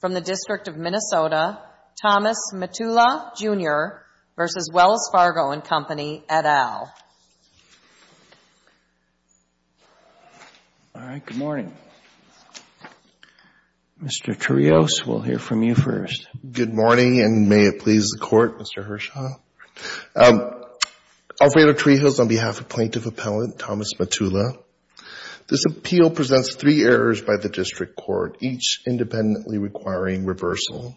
from the District of Minnesota, Thomas Matula, Jr. v. Wells Fargo & Company, et al. All right, good morning. Mr. Tarios, we'll hear from you first. Good morning, and may it please the Court, Mr. Hershaw. Alfredo Tarios, on behalf of Plaintiff Appellant Thomas Matula. This appeal presents three errors by the District Court, each independently requiring reversal.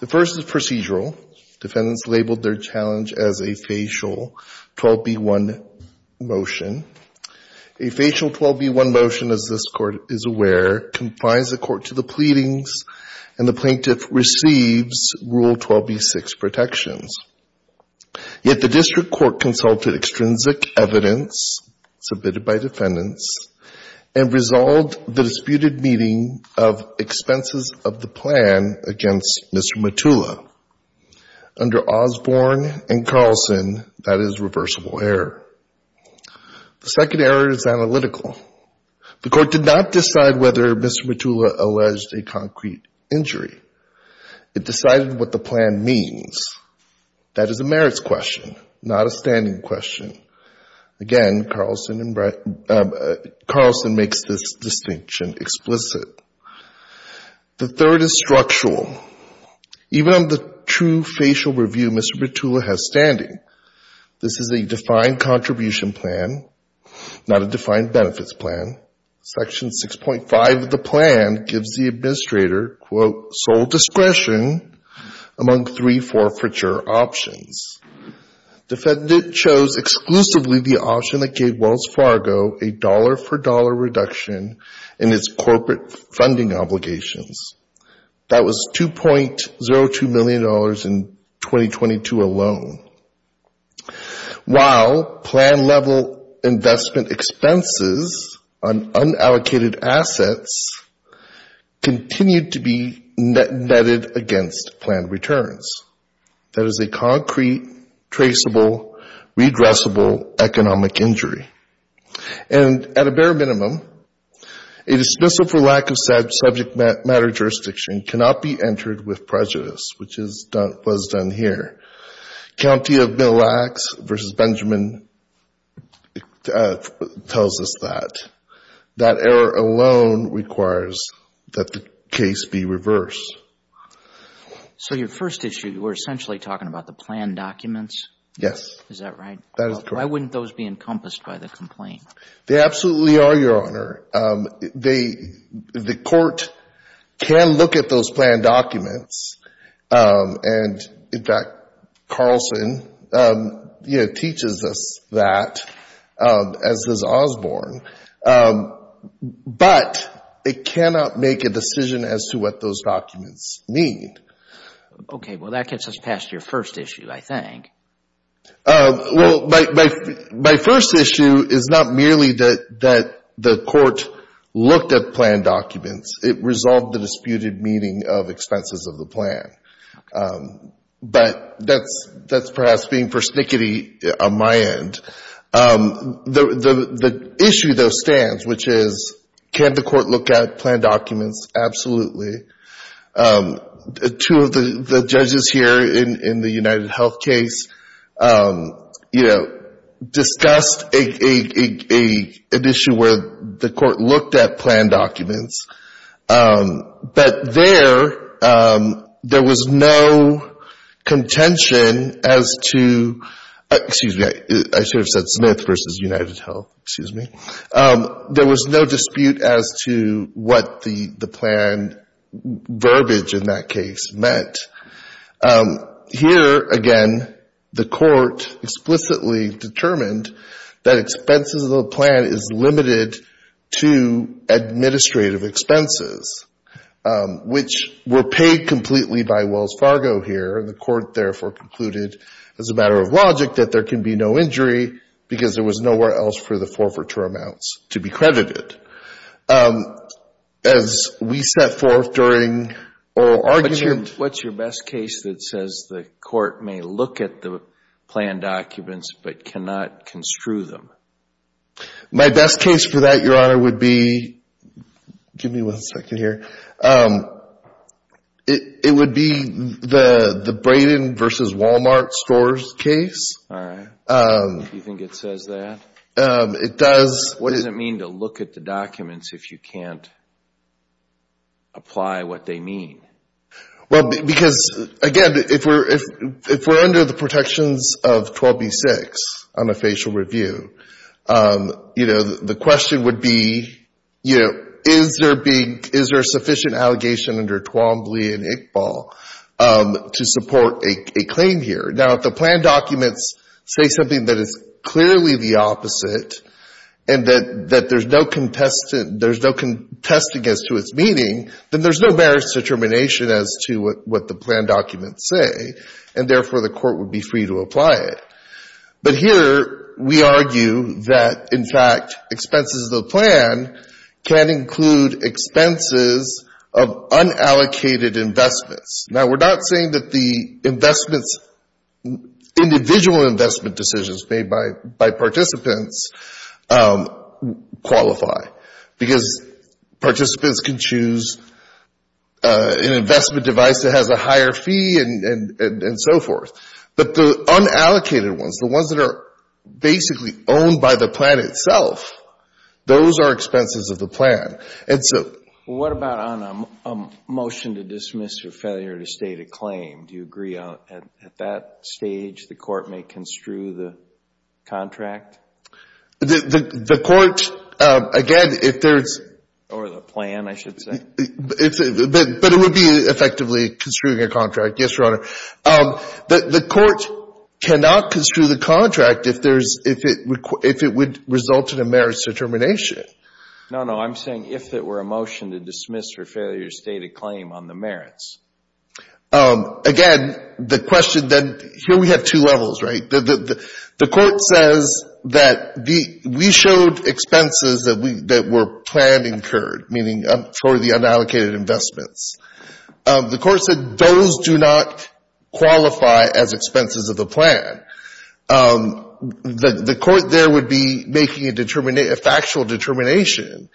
The first is procedural. Defendants labeled their challenge as a facial 12b-1 motion. A facial 12b-1 motion, as this Court is aware, complies the Court to the pleadings, and the Plaintiff receives Rule 12b-6 protections. Yet the District Court consulted extrinsic evidence submitted by defendants, and resolved the disputed meeting of expenses of the plan against Mr. Matula. Under Osborne and Carlson, that is reversible error. The second error is analytical. The Court did not decide whether Mr. Matula alleged a concrete injury. It decided what the plan means. That is a merits question, not a standing question. Again, Carlson makes this distinction explicit. The third is structural. Even under the true facial review, Mr. Matula has standing. This is a defined contribution plan, not a defined benefits plan. Section 6.5 of the plan gives the administrator, quote, sole discretion among three forfeiture options. Defendant chose exclusively the option that gave Wells Fargo a dollar-for-dollar reduction in its corporate funding obligations. That was $2.02 million in 2022 alone. While plan-level investment expenses on unallocated assets continued to be netted against planned returns. That is a concrete, traceable, redressable economic injury. And at a bare minimum, a dismissal for lack of subject matter jurisdiction cannot be entered with prejudice, which was done here. County of Mille Lacs v. Benjamin tells us that. That error alone requires that the case be reversed. So your first issue, you were essentially talking about the planned documents? Yes. Is that right? Why wouldn't those be encompassed by the complaint? They absolutely are, Your Honor. The court can look at those planned documents. And in fact, Carlson teaches us that, as does Osborne. But it cannot make a decision as to what those documents mean. Okay. Well, that gets us past your first issue, I think. Well, my first issue is not merely that the court looked at planned documents. It resolved the disputed meaning of expenses of the plan. But that's perhaps being persnickety on my end. The issue, though, stands, which is, can the court look at planned documents? Absolutely. Two of the judges here in the UnitedHealth case, you know, discussed an issue where the court looked at planned documents. But there, there was no contention as to excuse me, I should have said Smith v. UnitedHealth, excuse me. There was no dispute as to what the planned verbiage in that case meant. Here, again, the court explicitly determined that expenses of the plan is limited to administrative expenses, which were paid completely by Wells Fargo here. And the court therefore concluded, as a matter of logic, that there can be no injury because there was nowhere else for the forfeiture amounts to be credited. As we set forth during oral argument... What's your best case that says the court may look at the planned documents but cannot construe them? My best case for that, Your Honor, would be, give me one second here. It would be the Braden v. Walmart stores case. All right. Do you think it says that? What does it mean to look at the documents if you can't apply what they mean? Well, because, again, if we're under the protections of 12b-6 on a facial review, the question would be, is there a sufficient allegation under Twombly and Iqbal to support a claim here? Now, if the planned documents say something that is clearly the opposite and that there's no contesting as to its meaning, then there's no merits determination as to what the planned documents say, and therefore the court would be free to apply it. But here we argue that, in fact, expenses of the plan can include expenses of unallocated investments. Now, we're not saying that the individual investment decisions made by participants qualify, because participants can choose an investment device that has a higher fee and so forth. But the unallocated ones, the ones that are basically owned by the plan itself, those are expenses of the plan. Well, what about on a motion to dismiss or failure to state a claim? Do you agree at that stage the court may construe the contract? The court, again, if there's... Or the plan, I should say. But it would be effectively construing a contract, yes, Your Honor. The court cannot construe the contract if it would result in a merits determination. No, no. I'm saying if there were a motion to dismiss or failure to state a claim on the merits. Again, the question then, here we have two levels, right? The court says that we showed expenses that were planned incurred, meaning for the unallocated investments. The court said those do not qualify as expenses of the plan. The court there would be making a factual determination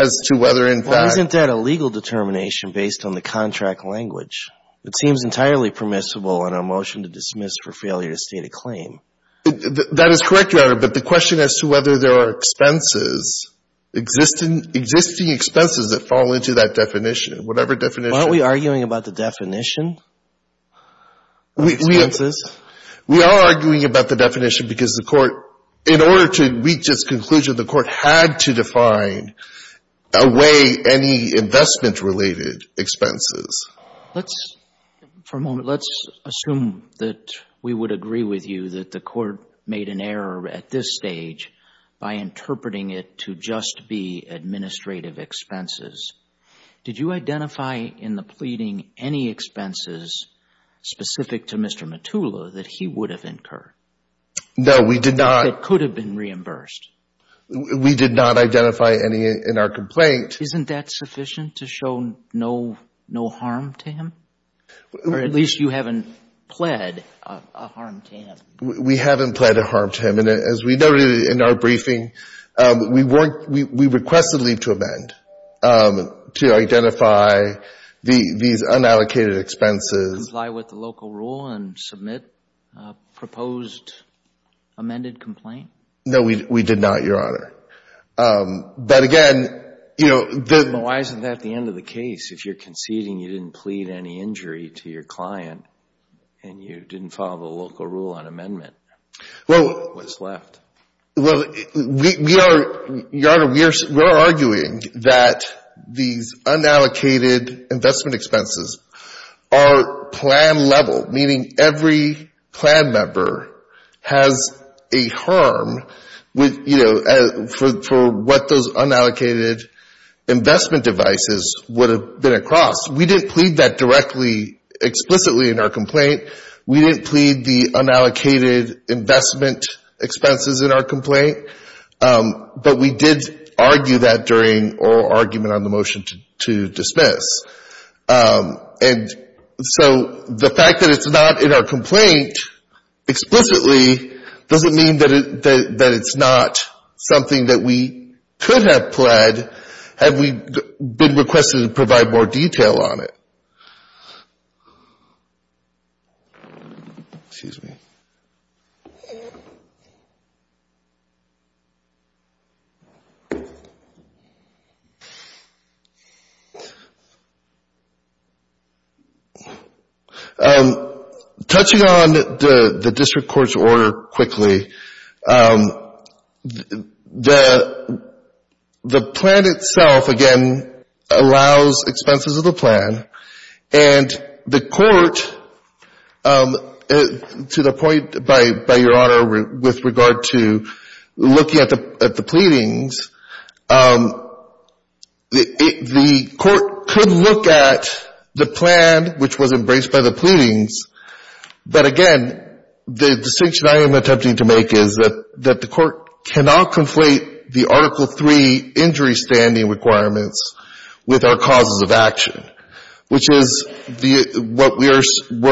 as to whether, in fact... Well, isn't that a legal determination based on the contract language? It seems entirely permissible on a motion to dismiss for failure to state a claim. That is correct, Your Honor, but the question as to whether there are expenses, existing expenses that fall into that definition, whatever definition... Aren't we arguing about the definition of expenses? We are arguing about the definition because the court, in order to reach its conclusion, the court had to define away any investment-related expenses. Let's, for a moment, let's assume that we would agree with you that the court made an error at this stage by interpreting it to just be administrative expenses. Did you identify in the pleading any expenses specific to Mr. Metulla that he would have incurred? No, we did not. That could have been reimbursed? We did not identify any in our complaint. Isn't that sufficient to show no harm to him? Or at least you haven't pled a harm to him. We haven't pled a harm to him. And as we noted in our briefing, we requested leave to amend to identify these unallocated expenses. Did you comply with the local rule and submit a proposed amended complaint? No, we did not, Your Honor. But again, you know... Well, why isn't that the end of the case? If you're conceding you didn't plead any injury to your client and you didn't follow the local rule on amendment, what's left? Well, Your Honor, we are arguing that these unallocated investment expenses are plan level, meaning every plan member has a harm, you know, for what those unallocated investment expenses are. And so the fact that it's not in our complaint explicitly doesn't mean that it's not something that we could have pled had we, you know, been requested to provide more detail on it. Touching on the district court's order quickly, the plan itself, again, allows expenses of the plan. And the court, to the point by Your Honor with regard to looking at the pleadings, the court could look at the plan which was embraced by the pleadings, but again, the distinction I am attempting to make is that the court cannot conflate the Article III injury standing requirements with our causes of action, which is what we're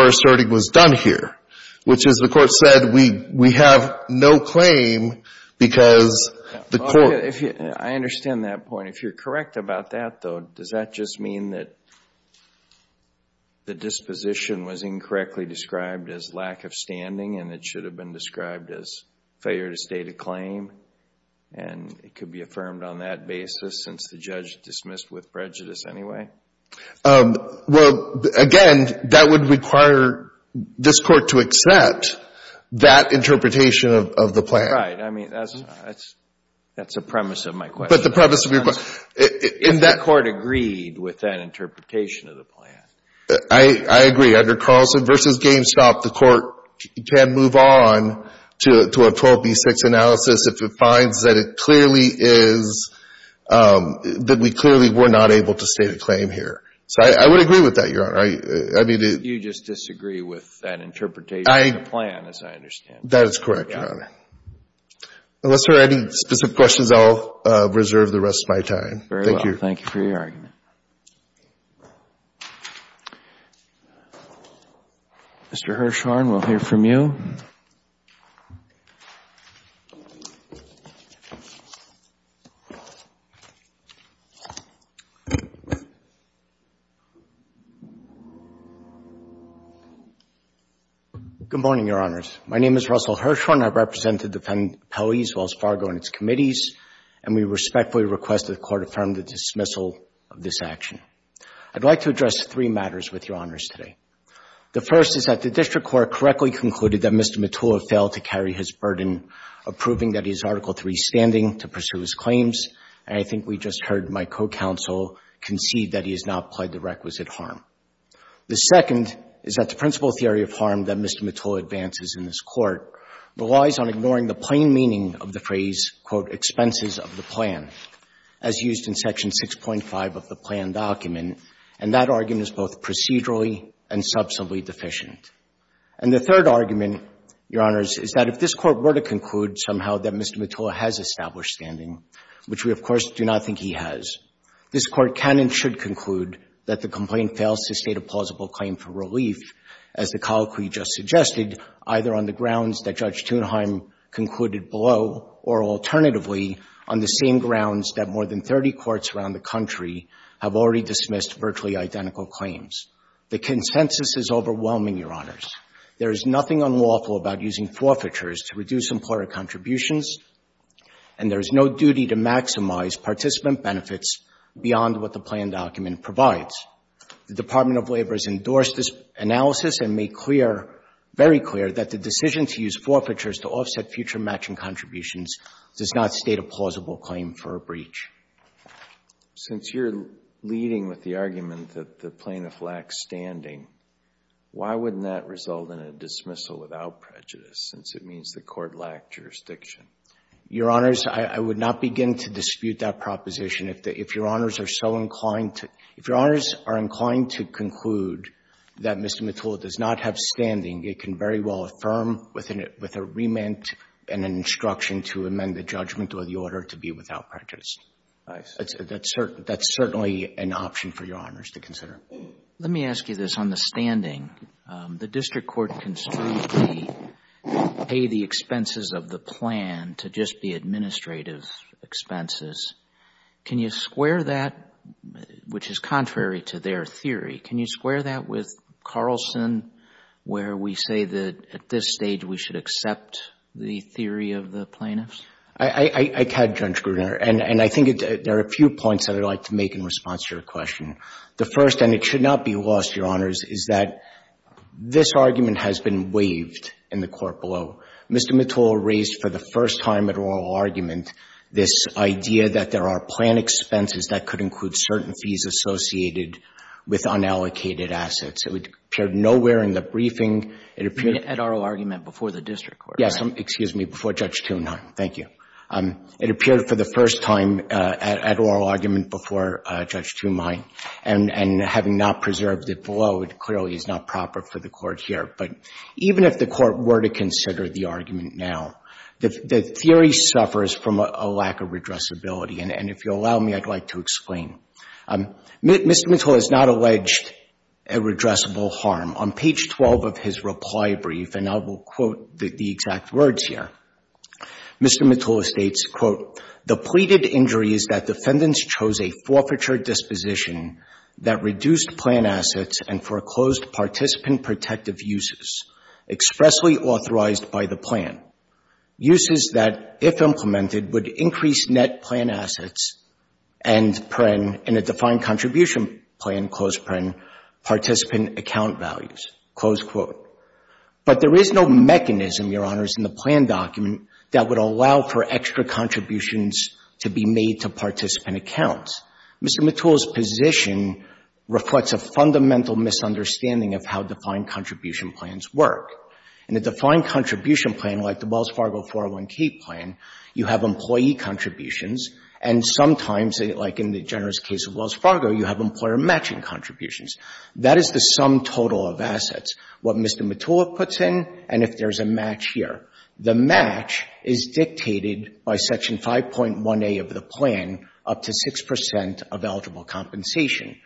asserting was done here, which is the court said we have no claim because the court... I understand that point. If you're correct about that, though, does that just mean that the disposition was incorrect described as lack of standing and it should have been described as failure to state a claim? And it could be affirmed on that basis since the judge dismissed with prejudice anyway? Well, again, that would require this court to accept that interpretation of the plan. Right. I mean, that's a premise of my question. But the premise of your question... And that court agreed with that interpretation of the plan. I agree. Under Carlson v. GameStop, the court can move on to a 12B6 analysis if it finds that it clearly is, that we clearly were not able to state a claim here. So I would agree with that, Your Honor. You just disagree with that interpretation of the plan, as I understand it. That is correct, Your Honor. Unless there are any specific questions, I'll reserve the rest of my time. Thank you. Very well. Thank you for your argument. Mr. Hirshhorn, we'll hear from you. Thank you, Your Honor. Mr. Hirshhorn, I would like to ask you to comment on the second argument. The second argument is that the statute of limitations of the plan relies on ignoring the plain meaning of the phrase, quote, expenses of the plan, as used in Section 6.5 of the plan document. And that argument is both procedurally and substantively deficient. And the third argument, Your Honors, is that if this Court were to conclude somehow that Mr. Mottola has established standing, which we, of course, do not think he has, this Court can and should conclude that the complaint fails to state a plausible claim for relief, as the colloquy just suggested, either on the grounds that Judge Thunheim concluded below or, alternatively, on the same grounds that more than 30 courts around the country have already dismissed virtually identical claims. The consensus is overwhelming, Your Honors. There is nothing unlawful about using forfeitures to reduce employer contributions, and there is no duty to maximize participant benefits beyond what the plan document provides. The Department of Labor has endorsed this analysis and made clear, very clear, that the decision to use forfeitures to offset future matching contributions does not state a plausible claim for a breach. Since you're leading with the argument that the plaintiff lacks standing, why wouldn't that result in a dismissal without prejudice, since it means the Court lacked jurisdiction? Your Honors, I would not begin to dispute that proposition. If Your Honors are so inclined to — if Your Honors are inclined to conclude that Mr. Mottola does not have an argument and an instruction to amend the judgment or the order to be without prejudice, that's certainly an option for Your Honors to consider. Let me ask you this. On the standing, the district court construed the pay the expenses of the plan to just be administrative expenses. Can you square that, which is contrary to their theory, can you square that with Carlson, where we say that at this stage we should accept the theory of the plaintiffs? I had, Judge Gruner, and I think there are a few points I would like to make in response to your question. The first, and it should not be lost, Your Honors, is that this argument has been waived in the court below. Mr. Mottola raised for the first time at oral argument this idea that there are plan expenses that could include certain fees associated with unallocated assets. It appeared nowhere in the briefing. At oral argument before the district court? Yes, excuse me, before Judge Thunheim. Thank you. It appeared for the first time at oral argument before Judge Thunheim, and having not preserved it below, it clearly is not proper for the court here. But even if the court were to consider the argument now, the theory suffers from a lack of redressability. And if you'll allow me, I'd like to explain. Mr. Mottola has not alleged a redressable harm. On page 12 of his reply brief, and I will quote the exact words here, Mr. Mottola states, quote, the pleaded injury is that defendants chose a forfeiture disposition that reduced plan assets and foreclosed participant protective uses expressly authorized by the plan. Uses that, if implemented, would increase net plan assets and, in a defined contribution plan, participant account values. Close quote. But there is no mechanism, Your Honors, in the plan document that would allow for extra contributions to be made to participant accounts. Mr. Mottola's position reflects a fundamental misunderstanding of how defined contribution plans work. In a defined contribution plan like the Wells Fargo 401k plan, you have employee contributions, and sometimes, like in the generous case of Wells Fargo, you have employer matching contributions. That is the sum total of assets, what Mr. Mottola puts in, and if there's a match here. The match is dictated by Section 5.1a of the plan, up to 6 percent of eligible compensation.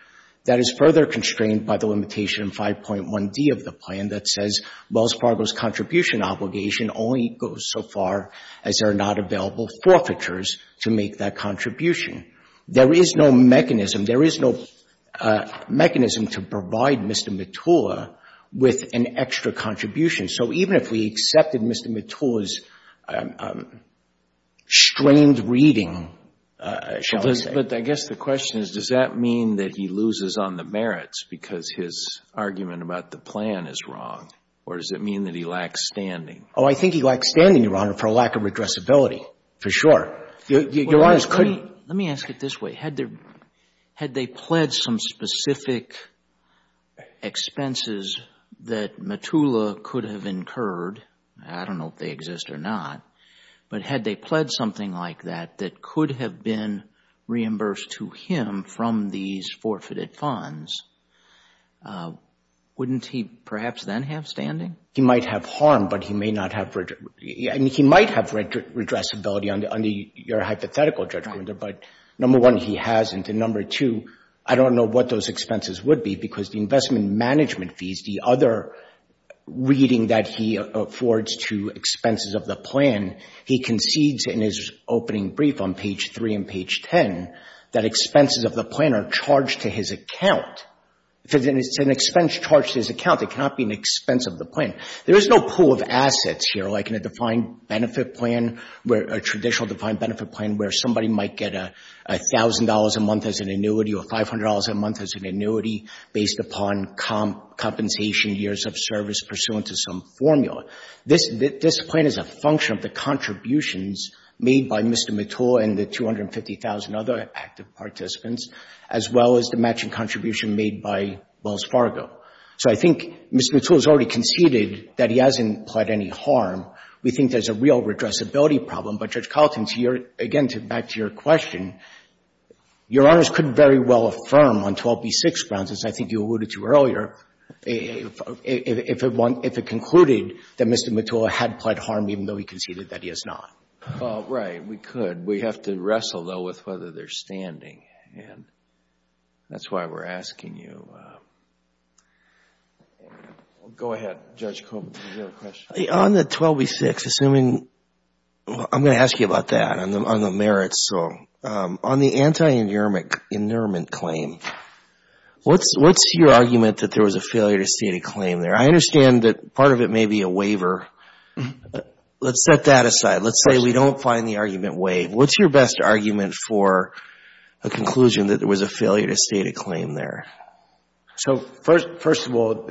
That is further constrained by the limitation in 5.1d of the plan that says Wells Fargo's contribution obligation only goes so far as there are not available forfeitures to make that contribution. There is no mechanism, there is no mechanism to provide Mr. Mottola with an extra contribution. So even if we accepted Mr. Mottola's strained reading, shall we say. But I guess the question is, does that mean that he loses on the merits because his argument about the plan is wrong, or does it mean that he lacks standing? Oh, I think he lacks standing, Your Honor, for a lack of redressability, for sure. Let me ask it this way. Had they pledged some specific expenses that Mottola could have incurred, I don't know if they exist or not, but had they pledged something like that that could have been reimbursed to him from these forfeited funds, wouldn't he perhaps then have standing? He might have harm, but he may not have, I mean, he might have redressability under your hypothetical judgment, but number one, he hasn't, and number two, I don't know what those expenses would be because the investment management fees, the other reading that he affords to expenses of the plan, he concedes in his opening brief on page three and page ten that expenses of the plan are charged to his plan. There is no pool of assets here, like in a defined benefit plan, a traditional defined benefit plan where somebody might get $1,000 a month as an annuity or $500 a month as an annuity based upon compensation years of service pursuant to some formula. This plan is a function of the contributions made by Mr. Mottola and the 250,000 other active participants, as well as the matching contribution made by Mr. Mottola. So if we concluded that he hasn't pled any harm, we think there's a real redressability problem, but, Judge Carlton, again, back to your question, your Honors couldn't very well affirm on 12B6 grounds, as I think you alluded to earlier, if it concluded that Mr. Mottola had pled harm even though he conceded that he has not. Right, we could. We have to wrestle, though, with whether they're standing, and that's why we're asking you. Go ahead, Judge Coleman, do you have a question? On the 12B6, I'm going to ask you about that, on the merits. On the anti-inheriment claim, what's your argument that there was a failure to state a claim there? I say we don't find the argument waived. What's your best argument for a conclusion that there was a failure to state a claim there? First of all,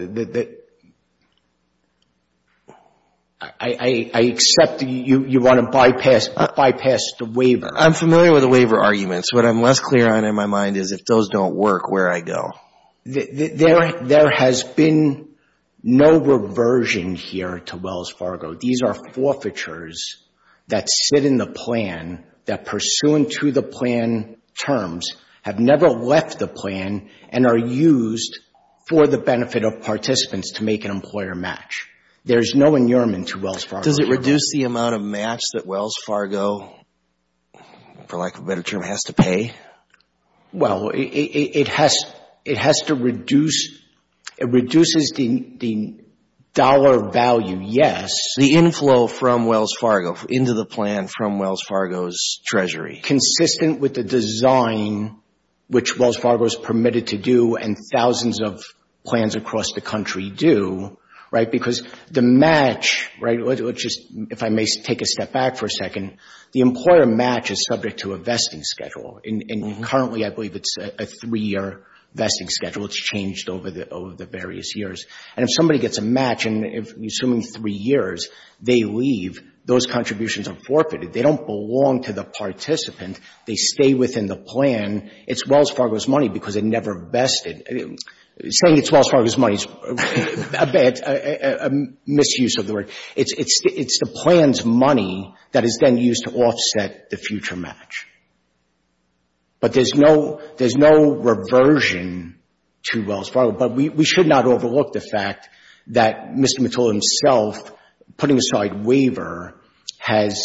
I accept that you want to bypass the waiver. I'm familiar with the waiver arguments. What I'm less clear on, in my mind, is if those don't work, where do I go? There has been no reversion here to Wells Fargo. These are forfeitures that sit in the plan that, pursuant to the plan terms, have never left the plan and are used for the benefit of participants to make an employer match. There's no inurement to Wells Fargo. Does it reduce the amount of match that Wells Fargo, for lack of a better term, has to pay? Well, it has to reduce the dollar value, yes. The inflow from Wells Fargo, into the plan from Wells Fargo's treasury. Consistent with the design, which Wells Fargo is permitted to do and thousands of plans across the country do, right? Because the match, right? If I may take a step back for a second, the employer match is subject to a vesting schedule. And currently, I believe it's a three-year vesting schedule. It's changed over the various years. And if somebody gets a match, and assuming three years, they leave, those contributions are forfeited. They don't belong to the participant. They stay within the plan. It's Wells Fargo's money because it never vested. Saying it's Wells Fargo's money is a misuse of the word. It's the plan's money that is then used to offset the future match. But there's no reversion to Wells Fargo. But we should not overlook the fact that Mr. Mottola himself, putting aside waiver, has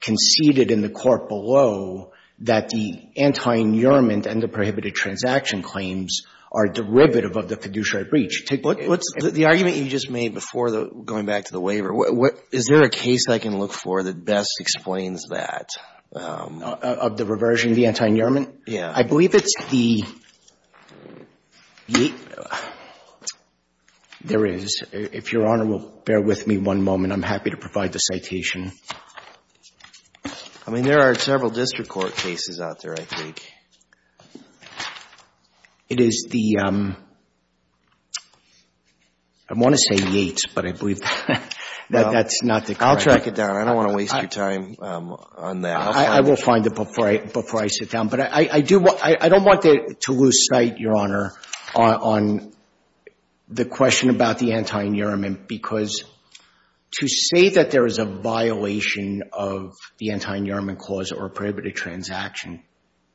conceded in the court below that the antinyourment and the prohibited transaction claims are derivative of the fiduciary breach. What's the argument you just made before going back to the waiver? Is there a case I can look for that best explains that? Of the reversion of the antinyourment? Yeah. I believe it's the — there is. If Your Honor will bear with me one moment, I'm happy to provide the citation. I mean, there are several district court cases out there, I think. It is the — I want to say Yates, but I believe that that's not the case. I'll track it down. I don't want to waste your time on that. I will find it before I sit down. But I don't want to lose sight, Your Honor, on the question about the antinyourment because to say that there is a violation of the antinyourment clause or prohibited transaction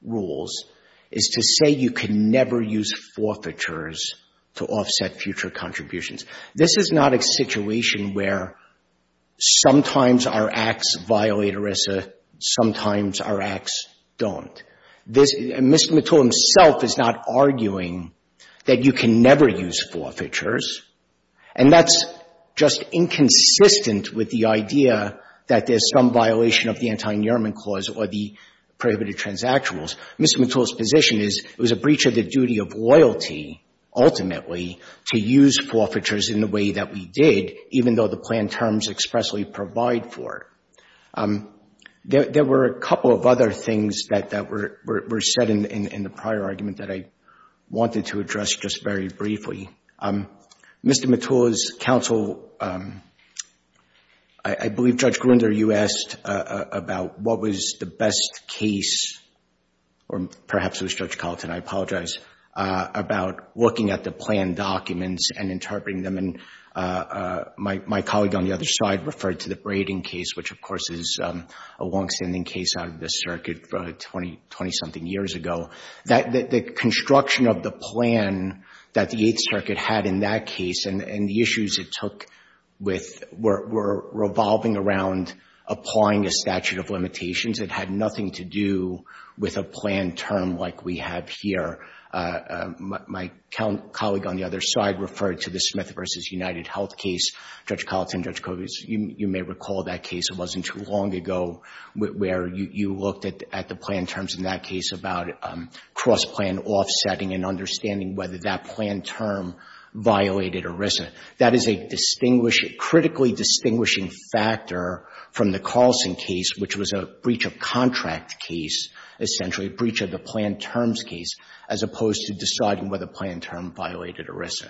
rules is to say you can never use forfeitures to offset future contributions. This is not a situation where sometimes our acts violate ERISA, sometimes our acts don't. This — Mr. Mattull himself is not arguing that you can never use forfeitures. And that's just inconsistent with the idea that there's some violation of the antinyourment clause or the prohibited transaction rules. Mr. Mattull's position is it was a breach of the duty of loyalty, ultimately, to use forfeitures in the way that we did, even though the plan terms expressly provide for it. There were a couple of other things that were said in the prior argument that I wanted to address just very briefly. Mr. Mattull's counsel — I believe, Judge Gruender, you asked about what was the best case — or perhaps it was Judge Carlton, I apologize — about looking at the plan documents and interpreting them. And my colleague on the other side referred to the Braden case, which, of course, is a longstanding case out of the circuit 20-something years ago. The construction of the plan that the Eighth Circuit had in that case and the issues it took with — were revolving around applying a statute of limitations. It had nothing to do with a plan term like we have here. My colleague on the other side referred to the Smith v. UnitedHealth case. Judge Carlton, Judge Kovetz, you may recall that case. It wasn't too long ago where you looked at the plan terms in that case about cross-plan offsetting and understanding whether that plan term violated ERISA. That is a distinguished — critically distinguishing factor from the Carlson case, which was a breach of contract case, essentially a breach of the plan terms case, as opposed to deciding whether the plan term violated ERISA.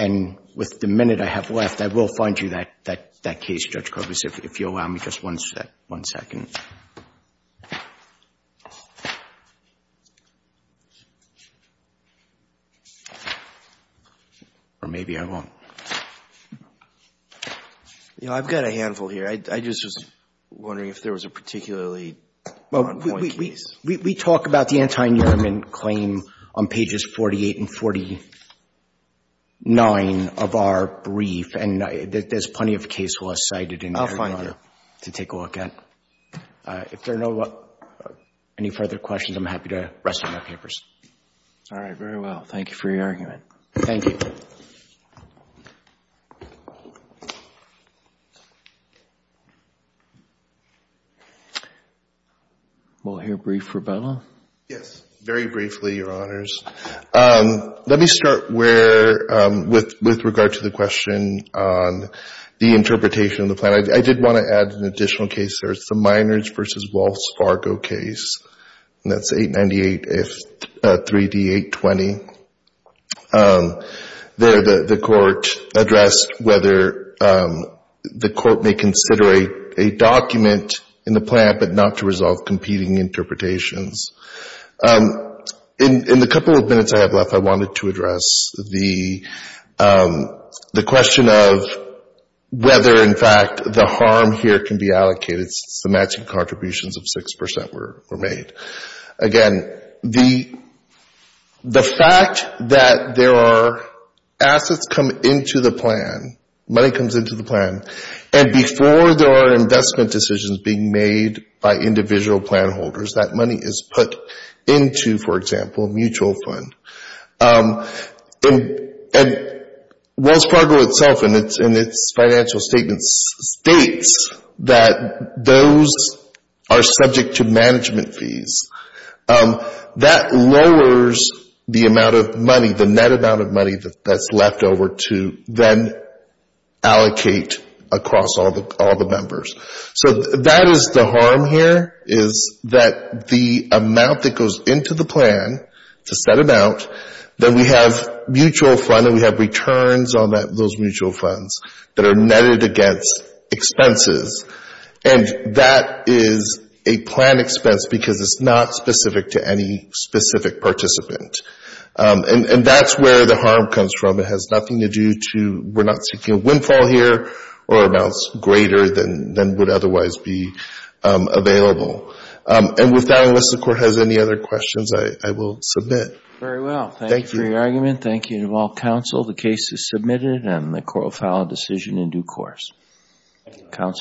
And with the minute I have left, I will find you that case, Judge Kovetz, if you allow me just one second. Or maybe I won't. You know, I've got a handful here. I just was wondering if there was a particularly one-point case. Well, we talk about the anti-Nurman claim on pages 48 and 49 of our brief. And there's plenty of case law cited in there to take a look at. If there are no further questions, I'm happy to rest my papers. All right. Very well. Thank you for your argument. Thank you. We'll hear a brief rebuttal. Yes. Very briefly, Your Honors. Let me start with regard to the question on the interpretation of the plan. I did want to add an additional case. There's the Miners v. Walsh Fargo case, and that's 898-3D-820. There, the court addressed whether the court may consider a document in the plan, but not to resolve competing interpretations. In the couple of minutes I have left, I wanted to address the question of whether, in fact, the harm here can be allocated since the matching contributions of 6% were made. Again, the fact that there are assets come into the plan, money comes into the plan, and before there are investment decisions being made by individual plan holders, that money is put into, for example, a mutual fund. And Walsh Fargo itself in its financial statements states that those are subject to management fees. That lowers the amount of money, the net amount of money that's left over to then allocate across all the members. So that is the harm here, is that the amount that goes into the plan to set amount, then we have mutual fund and we have returns on those mutual funds that are netted against expenses. And that is a plan expense because it's not specific to any specific participant. And that's where the harm comes from. It has nothing to do to, we're not seeking a windfall here or amounts greater than would otherwise be available. And with that, unless the Court has any other questions, I will submit. Very well. Thank you for your argument. Thank you to all counsel. The case is submitted and the Court will file a decision in due course. Counsel.